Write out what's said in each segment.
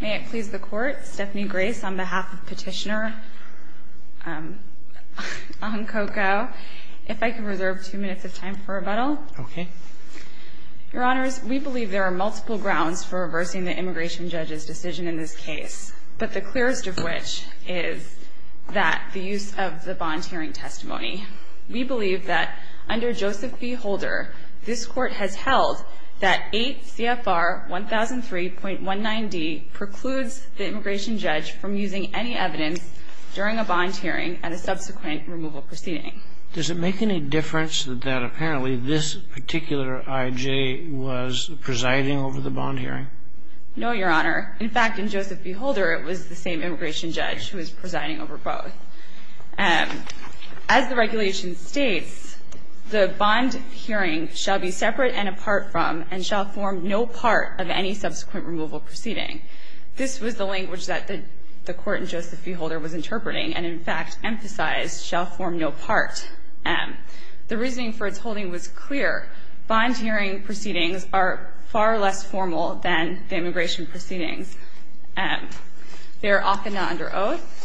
May it please the Court, Stephanie Grace on behalf of Petitioner on Ko-Ko. If I could reserve two minutes of time for rebuttal. Okay. Your Honors, we believe there are multiple grounds for reversing the Immigration Judge's decision in this case, but the clearest of which is that the use of the bond hearing testimony. We believe that under Joseph v. Holder, this Court has held that 8 CFR 1003.19d precludes the Immigration Judge from using any evidence during a bond hearing at a subsequent removal proceeding. Does it make any difference that apparently this particular I.J. was presiding over the bond hearing? No, Your Honor. In fact, in Joseph v. Holder, it was the same Immigration Judge who was presiding over both. As the regulation states, the bond hearing shall be separate and apart from and shall form no part of any subsequent removal proceeding. This was the language that the Court in Joseph v. Holder was interpreting and, in fact, emphasized shall form no part. The reasoning for its holding was clear. Bond hearing proceedings are far less formal than the immigration proceedings. They are often not under oath.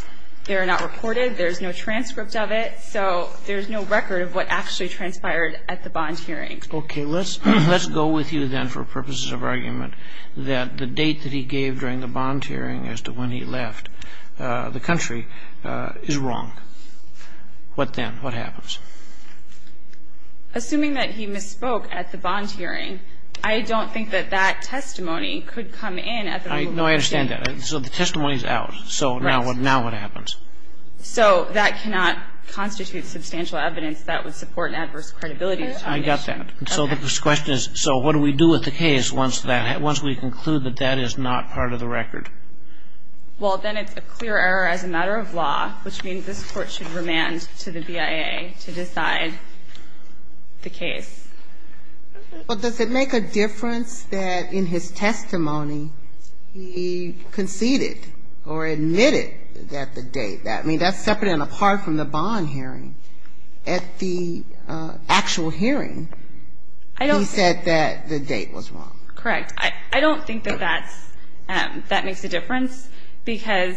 They are not reported. There is no transcript of it. So there is no record of what actually transpired at the bond hearing. Okay. Let's go with you then for purposes of argument that the date that he gave during the bond hearing as to when he left the country is wrong. What then? What happens? Assuming that he misspoke at the bond hearing, I don't think that that testimony could come in at the removal hearing. No, I understand that. So the testimony is out. So now what happens? So that cannot constitute substantial evidence that would support an adverse credibility determination. I got that. So the question is, so what do we do with the case once we conclude that that is not part of the record? Well, then it's a clear error as a matter of law, which means this Court should remand to the BIA to decide the case. But does it make a difference that in his testimony he conceded or admitted that the date, I mean, that's separate and apart from the bond hearing. At the actual hearing, he said that the date was wrong. Correct. I don't think that that makes a difference, because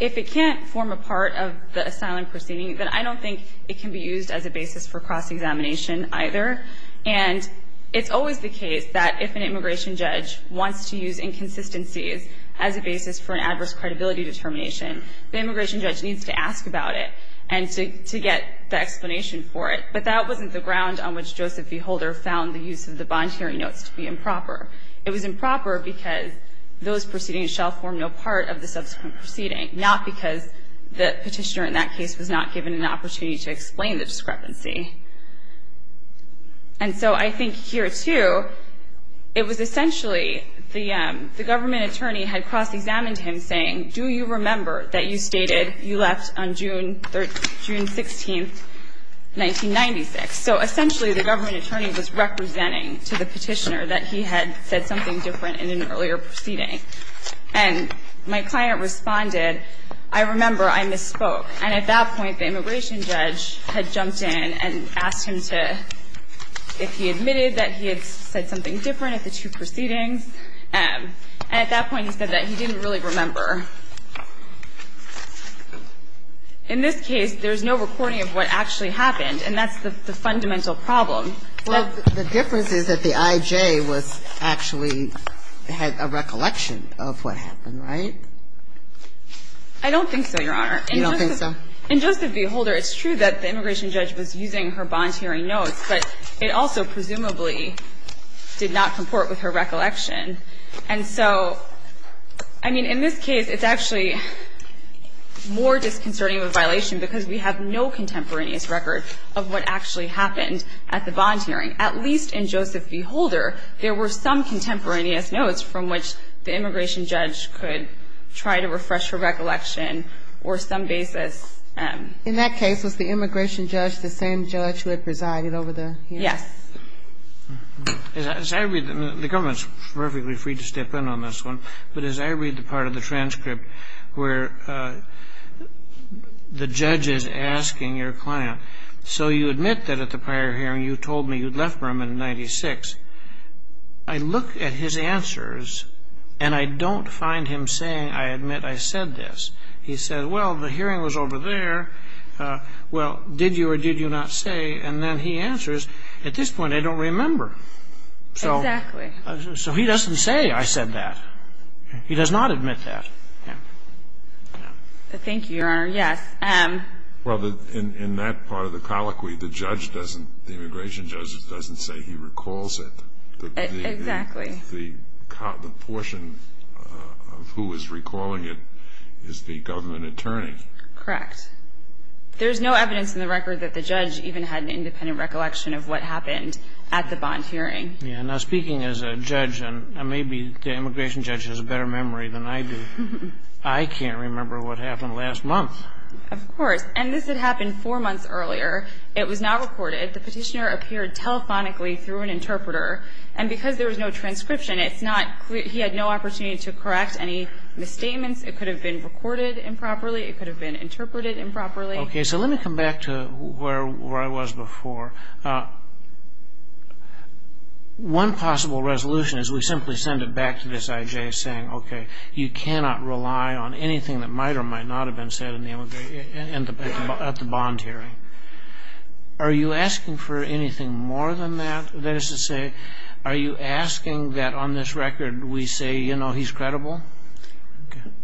if it can't form a part of the asylum proceeding, then I don't think it can be used as a basis for cross-examination either. And it's always the case that if an immigration judge wants to use inconsistencies as a basis for an adverse credibility determination, the immigration judge needs to ask about it and to get the explanation for it. But that wasn't the ground on which Joseph V. Holder found the use of the bond hearing notes to be improper. It was improper because those proceedings shall form no part of the subsequent proceeding, not because the petitioner in that case was not given an opportunity to explain the discrepancy. And so I think here, too, it was essentially the government attorney had cross-examined him saying, do you remember that you stated you left on June 16, 1996? So essentially the government attorney was representing to the petitioner that he had said something different in an earlier proceeding. And my client responded, I remember I misspoke. And at that point, the immigration judge had jumped in and asked him to – if he admitted that he had said something different at the two proceedings. And at that point, he said that he didn't really remember. In this case, there's no recording of what actually happened, and that's the fundamental problem. Kagan. Well, the difference is that the I.J. was actually – had a recollection of what happened, right? I don't think so, Your Honor. You don't think so? In Joseph V. Holder, it's true that the immigration judge was using her bond hearing notes, but it also presumably did not comport with her recollection. And so, I mean, in this case, it's actually more disconcerting of a violation because we have no contemporaneous record of what actually happened at the bond hearing. At least in Joseph V. Holder, there were some contemporaneous notes from which the immigration judge could try to refresh her recollection or some basis. In that case, was the immigration judge the same judge who had presided over the hearing? Yes. As I read – the government is perfectly free to step in on this one, but as I read the part of the transcript where the judge is asking your client, so you admit that at the prior hearing you told me you'd left Burma in 1996. I look at his answers, and I don't find him saying, I admit I said this. He said, well, the hearing was over there. Well, did you or did you not say? And then he answers, at this point, I don't remember. Exactly. So he doesn't say, I said that. He does not admit that. Thank you, Your Honor. Yes. Well, in that part of the colloquy, the immigration judge doesn't say he recalls it. Exactly. The portion of who is recalling it is the government attorney. Correct. There's no evidence in the record that the judge even had an independent recollection of what happened at the bond hearing. Now, speaking as a judge, and maybe the immigration judge has a better memory than I do, I can't remember what happened last month. Of course. And this had happened four months earlier. It was not recorded. The petitioner appeared telephonically through an interpreter, and because there was no transcription, he had no opportunity to correct any misstatements. It could have been recorded improperly. It could have been interpreted improperly. Okay, so let me come back to where I was before. One possible resolution is we simply send it back to this I.J. saying, okay, you cannot rely on anything that might or might not have been said at the bond hearing. Are you asking for anything more than that? That is to say, are you asking that on this record we say, you know, he's credible?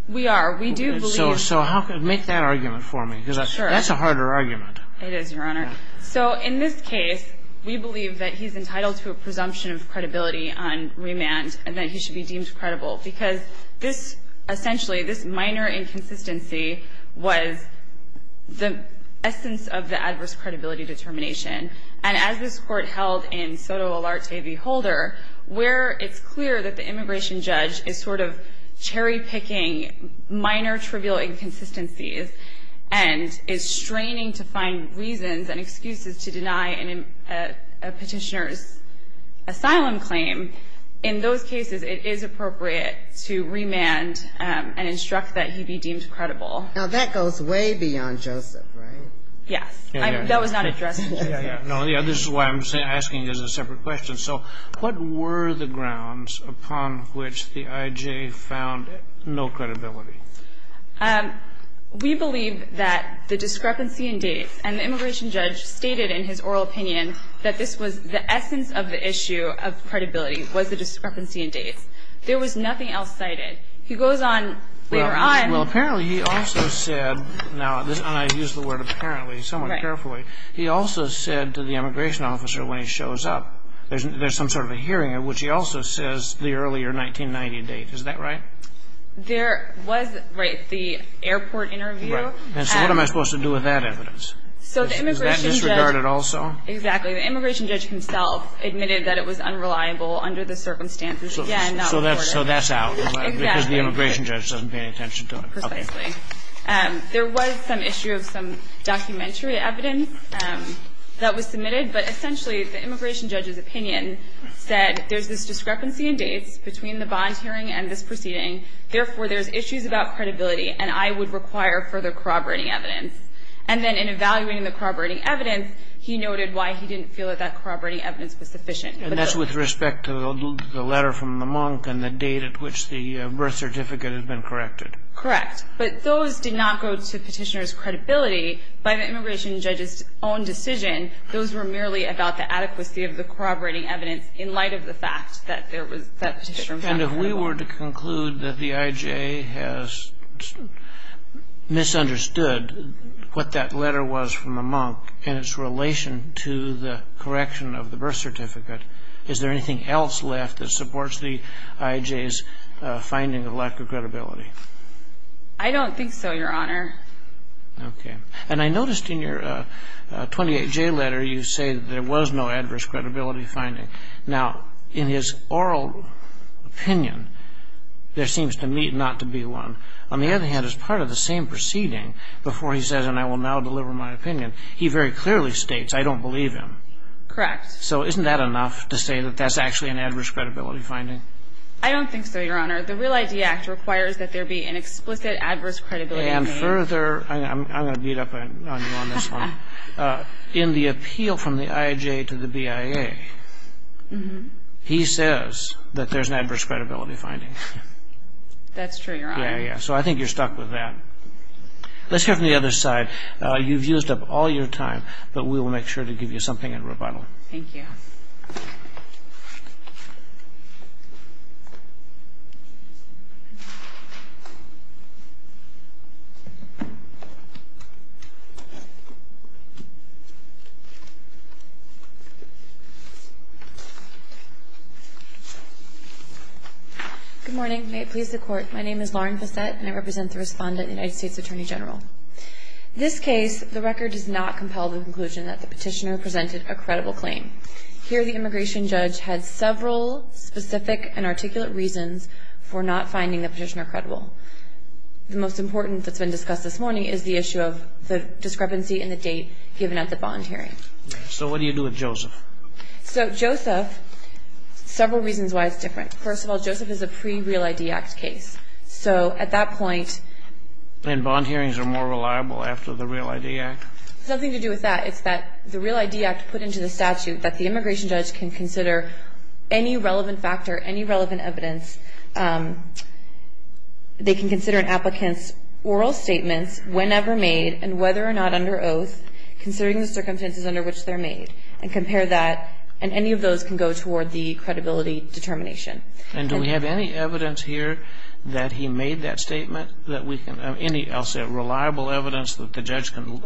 We are. We do believe. So make that argument for me, because that's a harder argument. It is, Your Honor. So in this case, we believe that he's entitled to a presumption of credibility on remand and that he should be deemed credible, because this, essentially, this minor inconsistency was the essence of the adverse credibility determination. And as this Court held in Sotomayor v. Holder, where it's clear that the immigration judge is sort of cherry-picking minor trivial inconsistencies and is straining to find reasons and excuses to deny a Petitioner's asylum claim, in those cases it is appropriate to remand and instruct that he be deemed credible. Now, that goes way beyond Joseph, right? Yes. That was not addressed. No, this is why I'm asking this as a separate question. So what were the grounds upon which the IJ found no credibility? We believe that the discrepancy in dates, and the immigration judge stated in his oral opinion that this was the essence of the issue of credibility, was the discrepancy in dates. There was nothing else cited. He goes on later on. Well, apparently he also said, and I use the word apparently somewhat carefully, he also said to the immigration officer when he shows up, there's some sort of a hearing at which he also says the earlier 1990 date. Is that right? There was, right, the airport interview. Right. And so what am I supposed to do with that evidence? So the immigration judge. Is that disregarded also? Exactly. The immigration judge himself admitted that it was unreliable under the circumstances. Again, that was ordered. So that's out. Exactly. Because the immigration judge doesn't pay any attention to it. Precisely. There was some issue of some documentary evidence that was submitted. But essentially, the immigration judge's opinion said there's this discrepancy in dates between the bond hearing and this proceeding. Therefore, there's issues about credibility, and I would require further corroborating evidence. And then in evaluating the corroborating evidence, he noted why he didn't feel that that corroborating evidence was sufficient. And that's with respect to the letter from the monk and the date at which the birth certificate had been corrected. Correct. But those did not go to Petitioner's credibility. By the immigration judge's own decision, those were merely about the adequacy of the corroborating evidence in light of the fact that there was that particular incident. And if we were to conclude that the IJ has misunderstood what that letter was from the monk in its relation to the correction of the birth certificate, is there anything else left that supports the IJ's finding of lack of credibility? I don't think so, Your Honor. Okay. And I noticed in your 28J letter you say that there was no adverse credibility finding. Now, in his oral opinion, there seems to meet not to be one. On the other hand, as part of the same proceeding, before he says, and I will now deliver my opinion, he very clearly states, I don't believe him. Correct. So isn't that enough to say that that's actually an adverse credibility finding? I don't think so, Your Honor. The REAL ID Act requires that there be an explicit adverse credibility finding. Further, I'm going to beat up on you on this one, in the appeal from the IJ to the BIA, he says that there's an adverse credibility finding. That's true, Your Honor. Yeah, yeah. So I think you're stuck with that. Let's hear from the other side. You've used up all your time, but we will make sure to give you something in rebuttal. Thank you. Good morning. May it please the Court. My name is Lauren Bassett, and I represent the respondent, the United States Attorney General. In this case, the record does not compel the conclusion that the petitioner presented a credible claim. Here, the immigration judge had several specific and articulate reasons for not The most important that's been discussed so far is that the immigration judge discrepancy in the date given at the bond hearing. So what do you do with Joseph? So Joseph, several reasons why it's different. First of all, Joseph is a pre-REAL ID Act case. So at that point And bond hearings are more reliable after the REAL ID Act? It has nothing to do with that. It's that the REAL ID Act put into the statute that the immigration judge can consider any relevant factor, any relevant evidence. They can consider an applicant's oral statements, whenever made, and whether or not under oath, considering the circumstances under which they're made, and compare that. And any of those can go toward the credibility determination. And do we have any evidence here that he made that statement that we can Any else reliable evidence that the judge can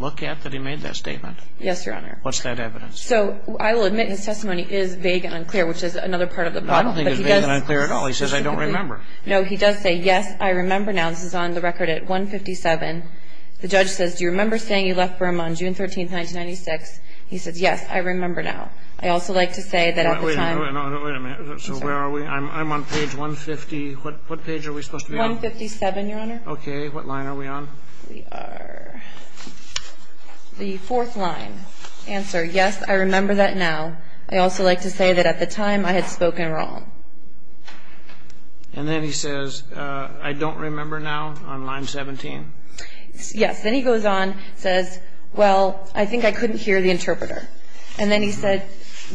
look at that he made that statement? Yes, Your Honor. What's that evidence? So I will admit his testimony is vague and unclear, which is another part of the problem. I don't think it's vague and unclear at all. He says, I don't remember. No, he does say, yes, I remember now. This is on the record at 157. The judge says, do you remember saying you left Burma on June 13, 1996? He says, yes, I remember now. I also like to say that at the time Wait a minute. So where are we? I'm on page 150. What page are we supposed to be on? 157, Your Honor. Okay. What line are we on? We are the fourth line. Answer, yes, I remember that now. I also like to say that at the time I had spoken wrong. And then he says, I don't remember now on line 17. Yes. Then he goes on, says, well, I think I couldn't hear the interpreter. And then he said,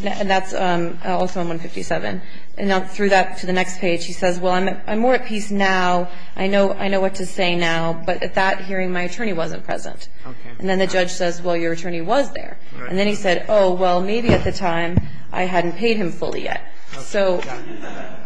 and that's also on 157. And through that to the next page, he says, well, I'm more at peace now. I know what to say now. But at that hearing, my attorney wasn't present. Okay. And then the judge says, well, your attorney was there. And then he said, oh, well, maybe at the time I hadn't paid him fully yet. So,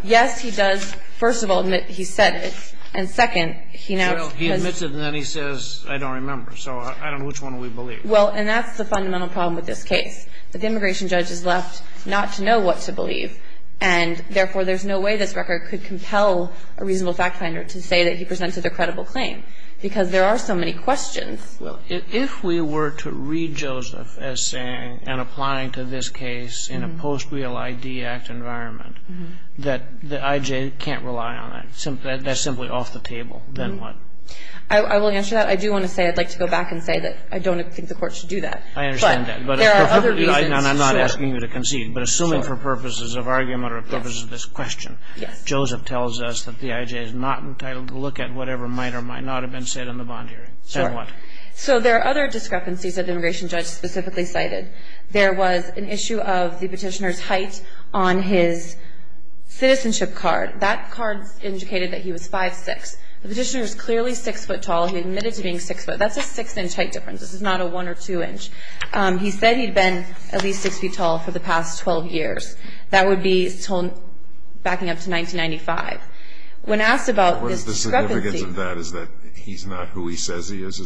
yes, he does, first of all, admit he said it. And second, he now says He admits it and then he says, I don't remember. So I don't know which one we believe. Well, and that's the fundamental problem with this case. The immigration judge is left not to know what to believe. And, therefore, there's no way this record could compel a reasonable fact finder to say that he presented a credible claim, because there are so many questions. If we were to read Joseph as saying and applying to this case in a post-real ID act environment, that the I.J. can't rely on it, that's simply off the table, then what? I will answer that. I do want to say I'd like to go back and say that I don't think the Court should do that. I understand that. But there are other reasons. I'm not asking you to concede. But assuming for purposes of argument or purposes of this question, Joseph tells us that the I.J. is not entitled to look at whatever might or might not have been said in the bond hearing. So there are other discrepancies that the immigration judge specifically cited. There was an issue of the petitioner's height on his citizenship card. That card indicated that he was 5'6". The petitioner is clearly 6' tall. He admitted to being 6'. That's a 6-inch height difference. This is not a 1 or 2-inch. He said he'd been at least 6 feet tall for the past 12 years. That would be backing up to 1995. What is the significance of that? Is that he's not who he says he is?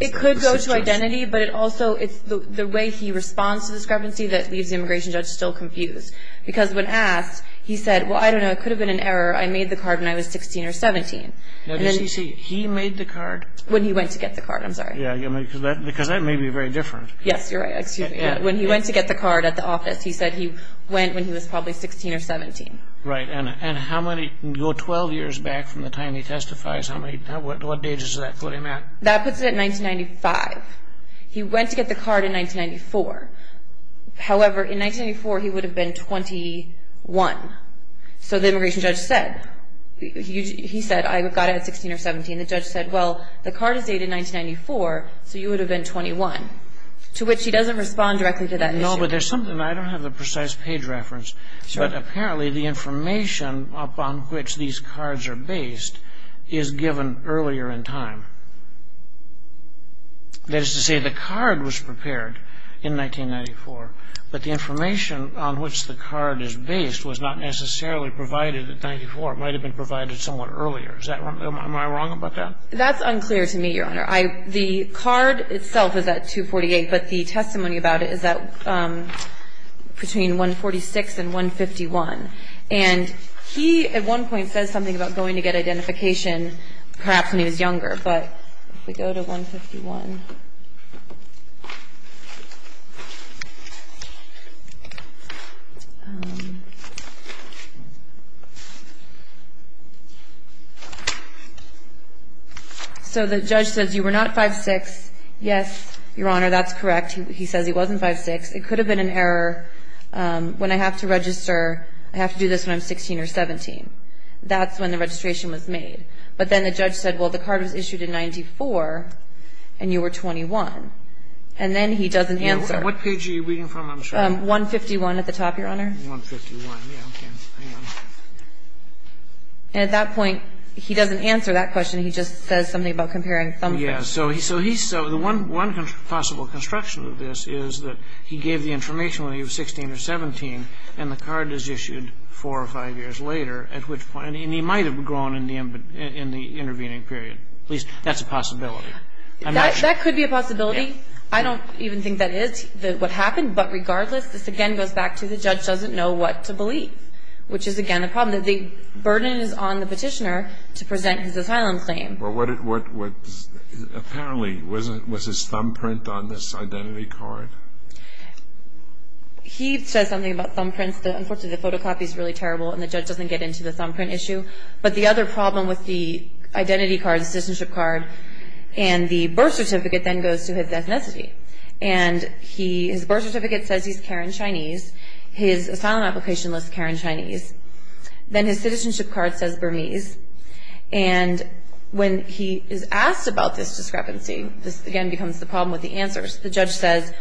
It could go to identity, but also it's the way he responds to discrepancy that leaves the immigration judge still confused. Because when asked, he said, well, I don't know, it could have been an error. I made the card when I was 16 or 17. Did he say he made the card? When he went to get the card. I'm sorry. Because that may be very different. Yes, you're right. When he went to get the card at the office, he said he went when he was probably 16 or 17. Right. And how many go 12 years back from the time he testifies? What age is that? That puts it at 1995. He went to get the card in 1994. However, in 1994, he would have been 21. So the immigration judge said, he said, I got it at 16 or 17. The judge said, well, the card is dated 1994, so you would have been 21. To which he doesn't respond directly to that issue. No, but there's something. I don't have the precise page reference. But apparently, the information upon which these cards are based is given earlier in time. That is to say, the card was prepared in 1994, but the information on which the card is based was not necessarily provided in 1994. It might have been provided somewhat earlier. Is that right? Am I wrong about that? That's unclear to me, Your Honor. The card itself is at 248, but the testimony about it is between 146 and 151. And he, at one point, says something about going to get identification perhaps when he was younger. But if we go to 151. So the judge says, you were not 5'6". Yes, Your Honor, that's correct. He says he wasn't 5'6". It could have been an error. When I have to register, I have to do this when I'm 16 or 17. That's when the registration was made. But then the judge said, well, the card was issued in 94, and you were 21. He says, well, you were not 5'6". He doesn't answer. What page are you reading from? I'm sorry. 151 at the top, Your Honor. 151. Yeah, okay. Hang on. And at that point, he doesn't answer that question. He just says something about comparing thumbprints. Yes. So he's so the one possible construction of this is that he gave the information when he was 16 or 17, and the card is issued four or five years later, at which point, and he might have grown in the intervening period. At least that's a possibility. I'm not sure. That could be a possibility. I don't even think that is what happened. But regardless, this, again, goes back to the judge doesn't know what to believe, which is, again, a problem. The burden is on the petitioner to present his asylum claim. Apparently, was his thumbprint on this identity card? He says something about thumbprints. Unfortunately, the photocopy is really terrible, and the judge doesn't get into the thumbprint issue. But the other problem with the identity card, the citizenship card, and the birth certificate then goes to his ethnicity. And his birth certificate says he's Karen Chinese. His asylum application lists Karen Chinese. Then his citizenship card says Burmese. And when he is asked about this discrepancy, this, again, becomes the problem with the answers. The judge says,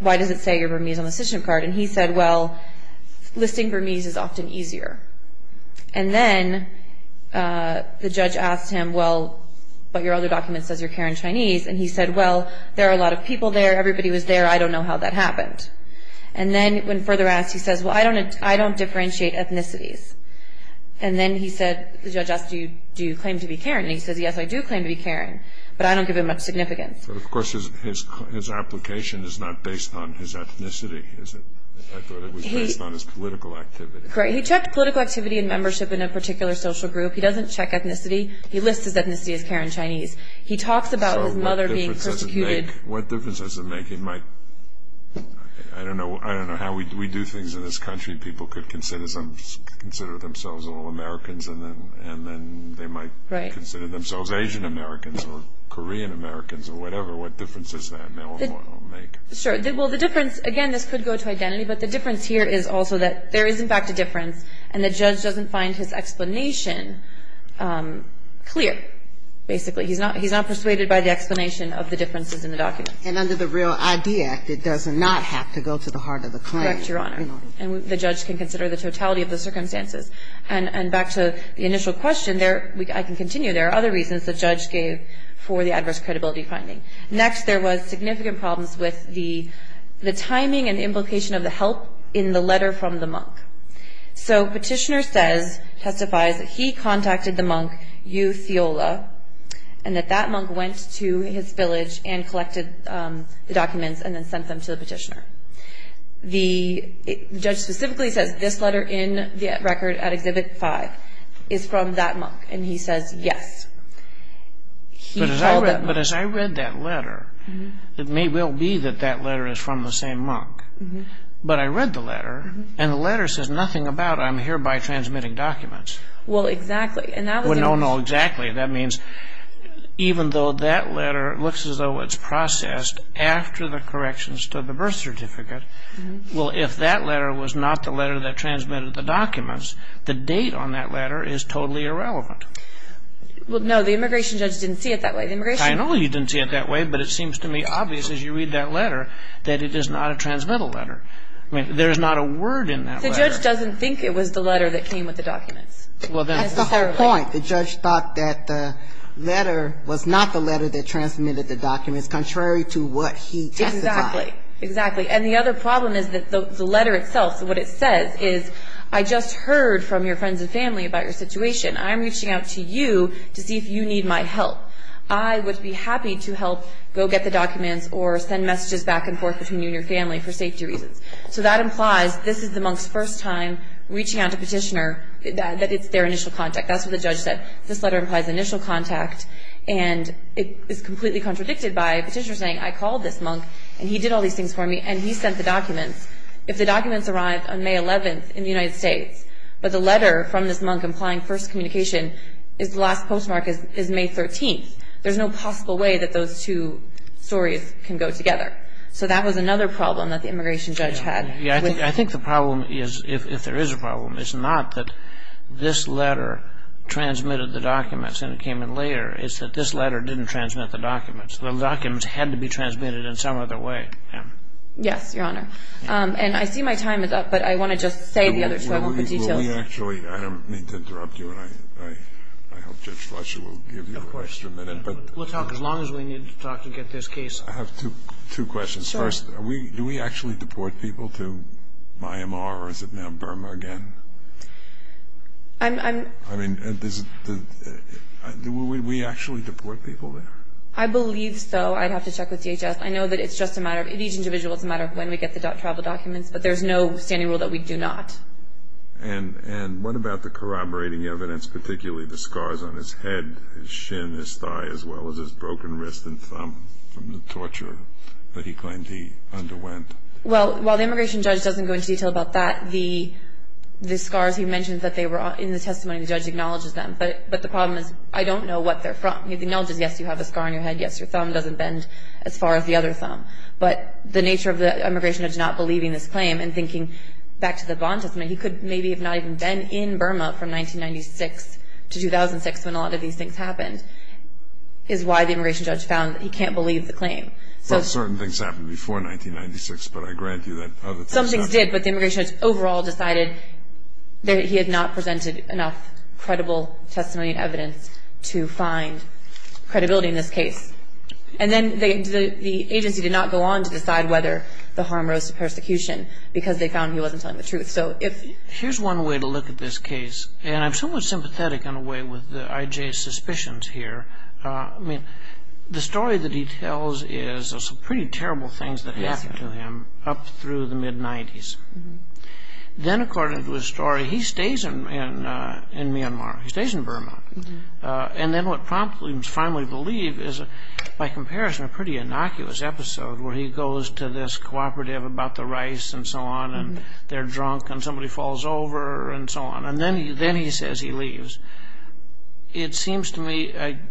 why does it say you're Burmese on the citizenship card? And he said, well, listing Burmese is often easier. And he said, well, there are a lot of people there. Everybody was there. I don't know how that happened. And then when further asked, he says, well, I don't differentiate ethnicities. And then he said, the judge asked, do you claim to be Karen? And he says, yes, I do claim to be Karen, but I don't give it much significance. But, of course, his application is not based on his ethnicity, is it? I thought it was based on his political activity. Correct. He checked political activity and membership in a particular social group. He doesn't check ethnicity. He lists his ethnicity as Karen Chinese. He talks about his mother being persecuted. So what difference does it make? What difference does it make? It might, I don't know how we do things in this country. People could consider themselves all Americans, and then they might consider themselves Asian Americans or Korean Americans or whatever. What difference does that make? Sure. Well, the difference, again, this could go to identity, but the difference here is also that there is, in fact, a difference, and the judge doesn't find his explanation clear, basically. He's not persuaded by the explanation of the differences in the document. And under the Real ID Act, it does not have to go to the heart of the claim. Correct, Your Honor. And the judge can consider the totality of the circumstances. And back to the initial question, I can continue. There are other reasons the judge gave for the adverse credibility finding. Next, there was significant problems with the timing and implication of the help in the letter from the monk. So Petitioner says, testifies, that he contacted the monk, Yu Theola, and that that monk went to his village and collected the documents and then sent them to the petitioner. The judge specifically says this letter in the record at Exhibit 5 is from that monk, and he says yes. But as I read that letter, it may well be that that letter is from the same monk. But I read the letter, and the letter says nothing about, I'm hereby transmitting documents. Well, exactly. No, no, exactly. That means even though that letter looks as though it's processed after the corrections to the birth certificate, well, if that letter was not the letter that transmitted the documents, the date on that letter is totally irrelevant. Well, no, the immigration judge didn't see it that way. I know he didn't see it that way, but it seems to me obvious as you read that letter that it is not a transmittal letter. I mean, there is not a word in that letter. The judge doesn't think it was the letter that came with the documents. That's the whole point. The judge thought that the letter was not the letter that transmitted the documents, contrary to what he testified. Exactly. And the other problem is that the letter itself, what it says is, I just heard from your friends and family about your situation. I'm reaching out to you to see if you need my help. I would be happy to help go get the documents or send messages back and forth between you and your family for safety reasons. So that implies this is the monk's first time reaching out to a petitioner that it's their initial contact. That's what the judge said. This letter implies initial contact, and it is completely contradicted by a petitioner saying, I called this monk and he did all these things for me and he sent the documents. If the documents arrived on May 11th in the United States, but the letter from this monk implying first communication is the last postmark is May 13th, there's no possible way that those two stories can go together. So that was another problem that the immigration judge had. I think the problem is, if there is a problem, it's not that this letter transmitted the documents and it came in later. It's that this letter didn't transmit the documents. The documents had to be transmitted in some other way. Yes, Your Honor. And I see my time is up, but I want to just say the other two. I don't mean to interrupt you, and I hope Judge Fletcher will give you a question. We'll talk as long as we need to talk to get this case. I have two questions. First, do we actually deport people to Myanmar or is it now Burma again? Do we actually deport people there? I believe so. I'd have to check with DHS. I know that each individual, it's a matter of when we get the travel documents, but there's no standing rule that we do not. And what about the corroborating evidence, particularly the scars on his head, his shin, his thigh, as well as his broken wrist and thumb from the torture that he claimed he underwent? Well, while the immigration judge doesn't go into detail about that, the scars he mentioned that they were in the testimony, the judge acknowledges them. But the problem is, I don't know what they're from. He acknowledges, yes, you have a scar on your head. Yes, your thumb doesn't bend as far as the other thumb. But the nature of the immigration judge not believing this claim and thinking back to the bond testimony, he could maybe have not even been in Burma from 1996 to 2006 when a lot of these things happened, is why the immigration judge found that he can't believe the claim. But certain things happened before 1996, but I grant you that other things happened. Some things did, but the immigration judge overall decided that he had not presented enough credible testimony and evidence to find credibility in this case. And then the agency did not go on to decide whether the harm rose to persecution because they found he wasn't telling the truth. Here's one way to look at this case, and I'm somewhat sympathetic in a way with I.J.'s suspicions here. I mean, the story that he tells is some pretty terrible things that happened to him up through the mid-'90s. Then, according to his story, he stays in Myanmar. He stays in Burma. And then what prompts him to finally believe is, by comparison, a pretty innocuous episode where he goes to this cooperative about the rice and so on, and they're drunk, and somebody falls over and so on. And then he says he leaves. It seems to me,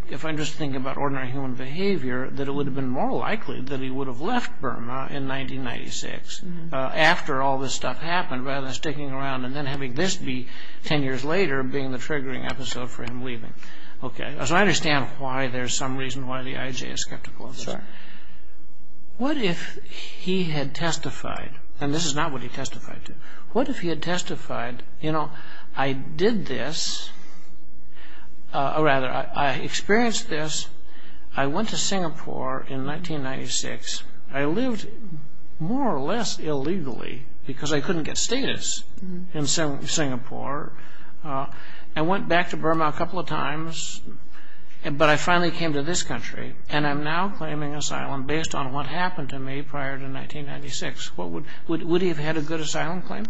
if I just think about ordinary human behavior, that it would have been more likely that he would have left Burma in 1996 after all this stuff happened rather than sticking around and then having this be ten years later being the triggering episode for him leaving. So I understand why there's some reason why the I.J. is skeptical of this. Sure. What if he had testified, and this is not what he testified to, what if he had testified, you know, I did this, or rather, I experienced this, I went to Singapore in 1996, I lived more or less illegally because I couldn't get status in Singapore. I went back to Burma a couple of times, but I finally came to this country, and I'm now claiming asylum based on what happened to me prior to 1996. Would he have had a good asylum claim?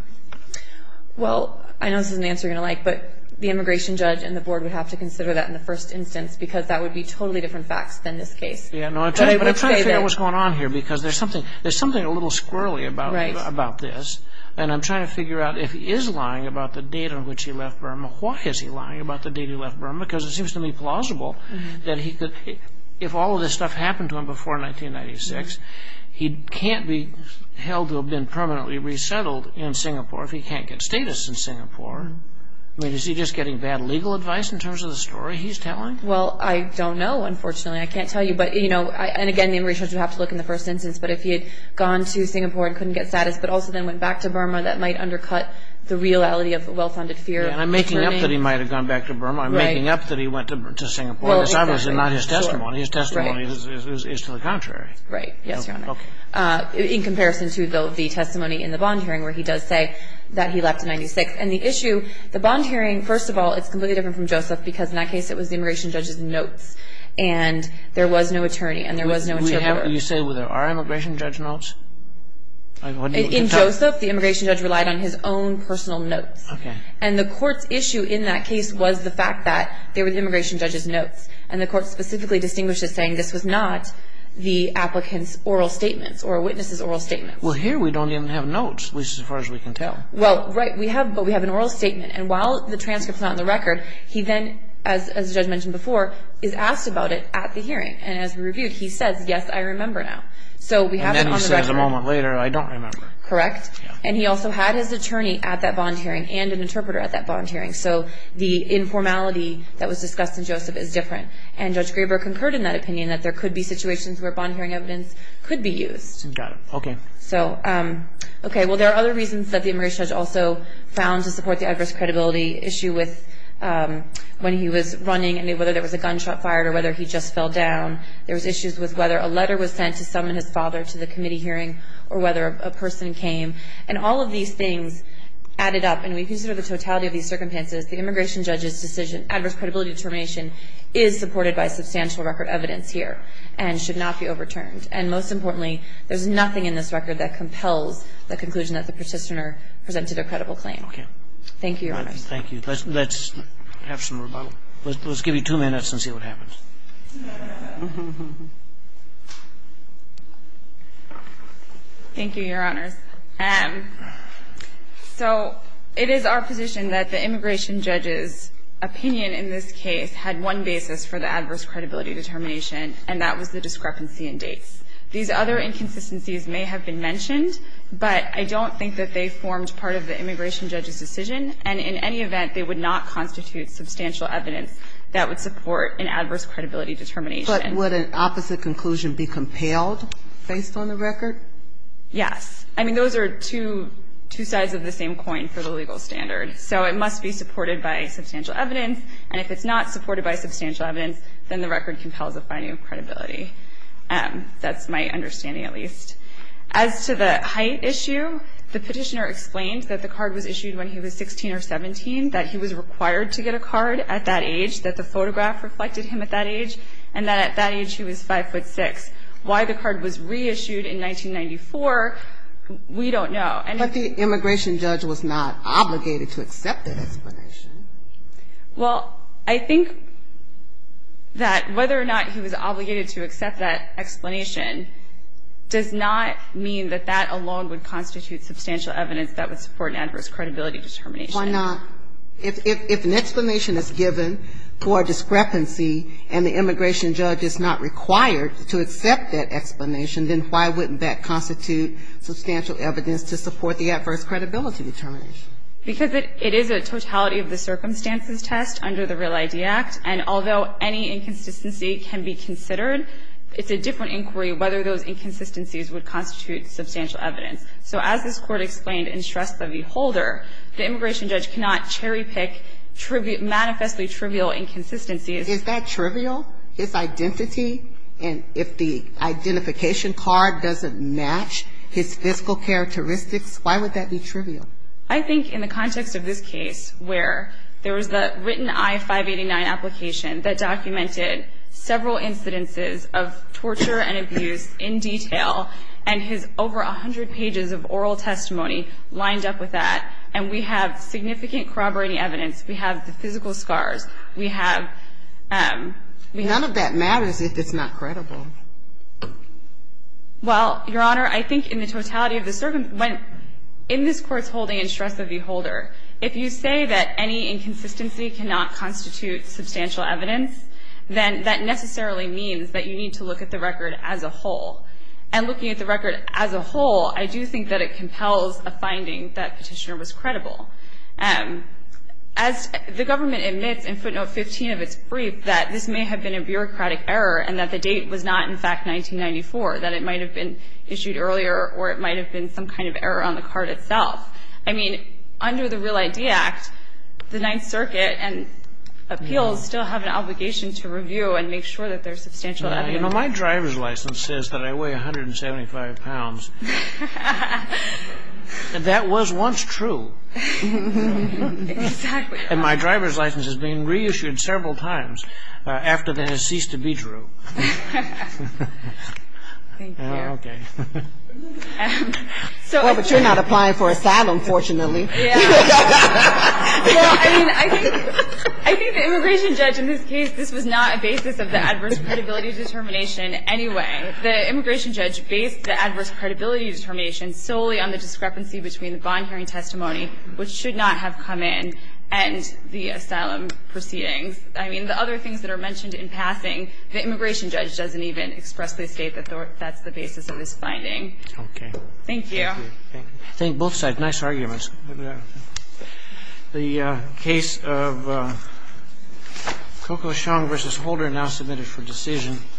Well, I know this isn't an answer you're going to like, but the immigration judge and the board would have to consider that in the first instance because that would be totally different facts than this case. But I'm trying to figure out what's going on here because there's something a little squirrely about this, and I'm trying to figure out if he is lying about the date on which he left Burma. Why is he lying about the date he left Burma? Because it seems to me plausible that if all of this stuff happened to him before 1996, he can't be held to have been permanently resettled in Singapore if he can't get status in Singapore. I mean, is he just getting bad legal advice in terms of the story he's telling? Well, I don't know, unfortunately. I can't tell you. But, you know, and again, the immigration judge would have to look in the first instance. But if he had gone to Singapore and couldn't get status but also then went back to Burma, that might undercut the reality of well-founded fear. And I'm making up that he might have gone back to Burma. Right. I'm making up that he went to Singapore. Well, exactly. Because that was not his testimony. His testimony is to the contrary. Right. Yes, Your Honor. Okay. In comparison to the testimony in the bond hearing where he does say that he left in 1996. because in that case it was the immigration judge's notes. And there was no attorney. And there was no interpreter. You say there are immigration judge notes? In Joseph, the immigration judge relied on his own personal notes. Okay. And the court's issue in that case was the fact that they were the immigration judge's notes. And the court specifically distinguished as saying this was not the applicant's oral statements or a witness's oral statements. Well, here we don't even have notes as far as we can tell. Well, right. But we have an oral statement. And while the transcript's not in the record, he then, as the judge mentioned before, is asked about it at the hearing. And as we reviewed, he says, yes, I remember now. And then he says a moment later, I don't remember. Correct. And he also had his attorney at that bond hearing and an interpreter at that bond hearing. So the informality that was discussed in Joseph is different. And Judge Graber concurred in that opinion that there could be situations where bond hearing evidence could be used. Got it. Okay. Okay. Well, there are other reasons that the immigration judge also found to support the adverse credibility issue with when he was running and whether there was a gunshot fired or whether he just fell down. There was issues with whether a letter was sent to summon his father to the committee hearing or whether a person came. And all of these things added up. And we consider the totality of these circumstances. The immigration judge's decision, adverse credibility determination, is supported by substantial record evidence here and should not be overturned. And most importantly, there's nothing in this record that compels the conclusion that the petitioner presented a credible claim. Okay. Thank you, Your Honors. Thank you. Let's have some rebuttal. Let's give you two minutes and see what happens. Thank you, Your Honors. So it is our position that the immigration judge's opinion in this case had one basis for the adverse credibility determination, and that was the discrepancy in dates. These other inconsistencies may have been mentioned, but I don't think that they formed part of the immigration judge's decision. And in any event, they would not constitute substantial evidence that would support an adverse credibility determination. But would an opposite conclusion be compelled based on the record? Yes. I mean, those are two sides of the same coin for the legal standard. So it must be supported by substantial evidence, and if it's not supported by substantial evidence, then the record compels a fine of credibility. That's my understanding, at least. As to the height issue, the petitioner explained that the card was issued when he was 16 or 17, that he was required to get a card at that age, that the photograph reflected him at that age, and that at that age he was 5'6". Why the card was reissued in 1994, we don't know. But the immigration judge was not obligated to accept that explanation. Well, I think that whether or not he was obligated to accept that explanation does not mean that that alone would constitute substantial evidence that would support an adverse credibility determination. Why not? If an explanation is given for discrepancy and the immigration judge is not required to accept that explanation, then why wouldn't that constitute substantial evidence to support the adverse credibility determination? Because it is a totality of the circumstances test under the Real ID Act, and although any inconsistency can be considered, it's a different inquiry whether those inconsistencies would constitute substantial evidence. So as this Court explained in Shrestha v. Holder, the immigration judge cannot cherry-pick manifestly trivial inconsistencies. Is that trivial? His identity? And if the identification card doesn't match his fiscal characteristics, why would that be trivial? I think in the context of this case where there was the written I-589 application that documented several incidences of torture and abuse in detail, and his over 100 pages of oral testimony lined up with that, and we have significant corroborating evidence. We have the physical scars. We have... None of that matters if it's not credible. Well, Your Honor, I think in the totality of the circumstances... In this Court's holding in Shrestha v. Holder, if you say that any inconsistency cannot constitute substantial evidence, then that necessarily means that you need to look at the record as a whole. And looking at the record as a whole, I do think that it compels a finding that Petitioner was credible. As the government admits in footnote 15 of its brief that this may have been a bureaucratic error and that the date was not, in fact, 1994, that it might have been issued earlier or it might have been some kind of error on the card itself. I mean, under the Real ID Act, the Ninth Circuit and appeals still have an obligation to review and make sure that there's substantial evidence. My driver's license says that I weigh 175 pounds, and that was once true. Exactly. And my driver's license has been reissued several times after that has ceased to be true. Thank you. Okay. Well, but you're not applying for asylum, fortunately. Yeah. Well, I mean, I think the immigration judge in this case, this was not a basis of the adverse credibility determination anyway. The immigration judge based the adverse credibility determination solely on the discrepancy between the bond hearing testimony, which should not have come in, and the asylum proceedings. I mean, the other things that are mentioned in passing, the immigration judge doesn't even expressly state that that's the basis of this finding. Okay. Thank you. Thank you. Thank you. Thank you. Thank you. Thank you. Thank you. Thank you. Thank you. Thank you. Thank you. Thank you.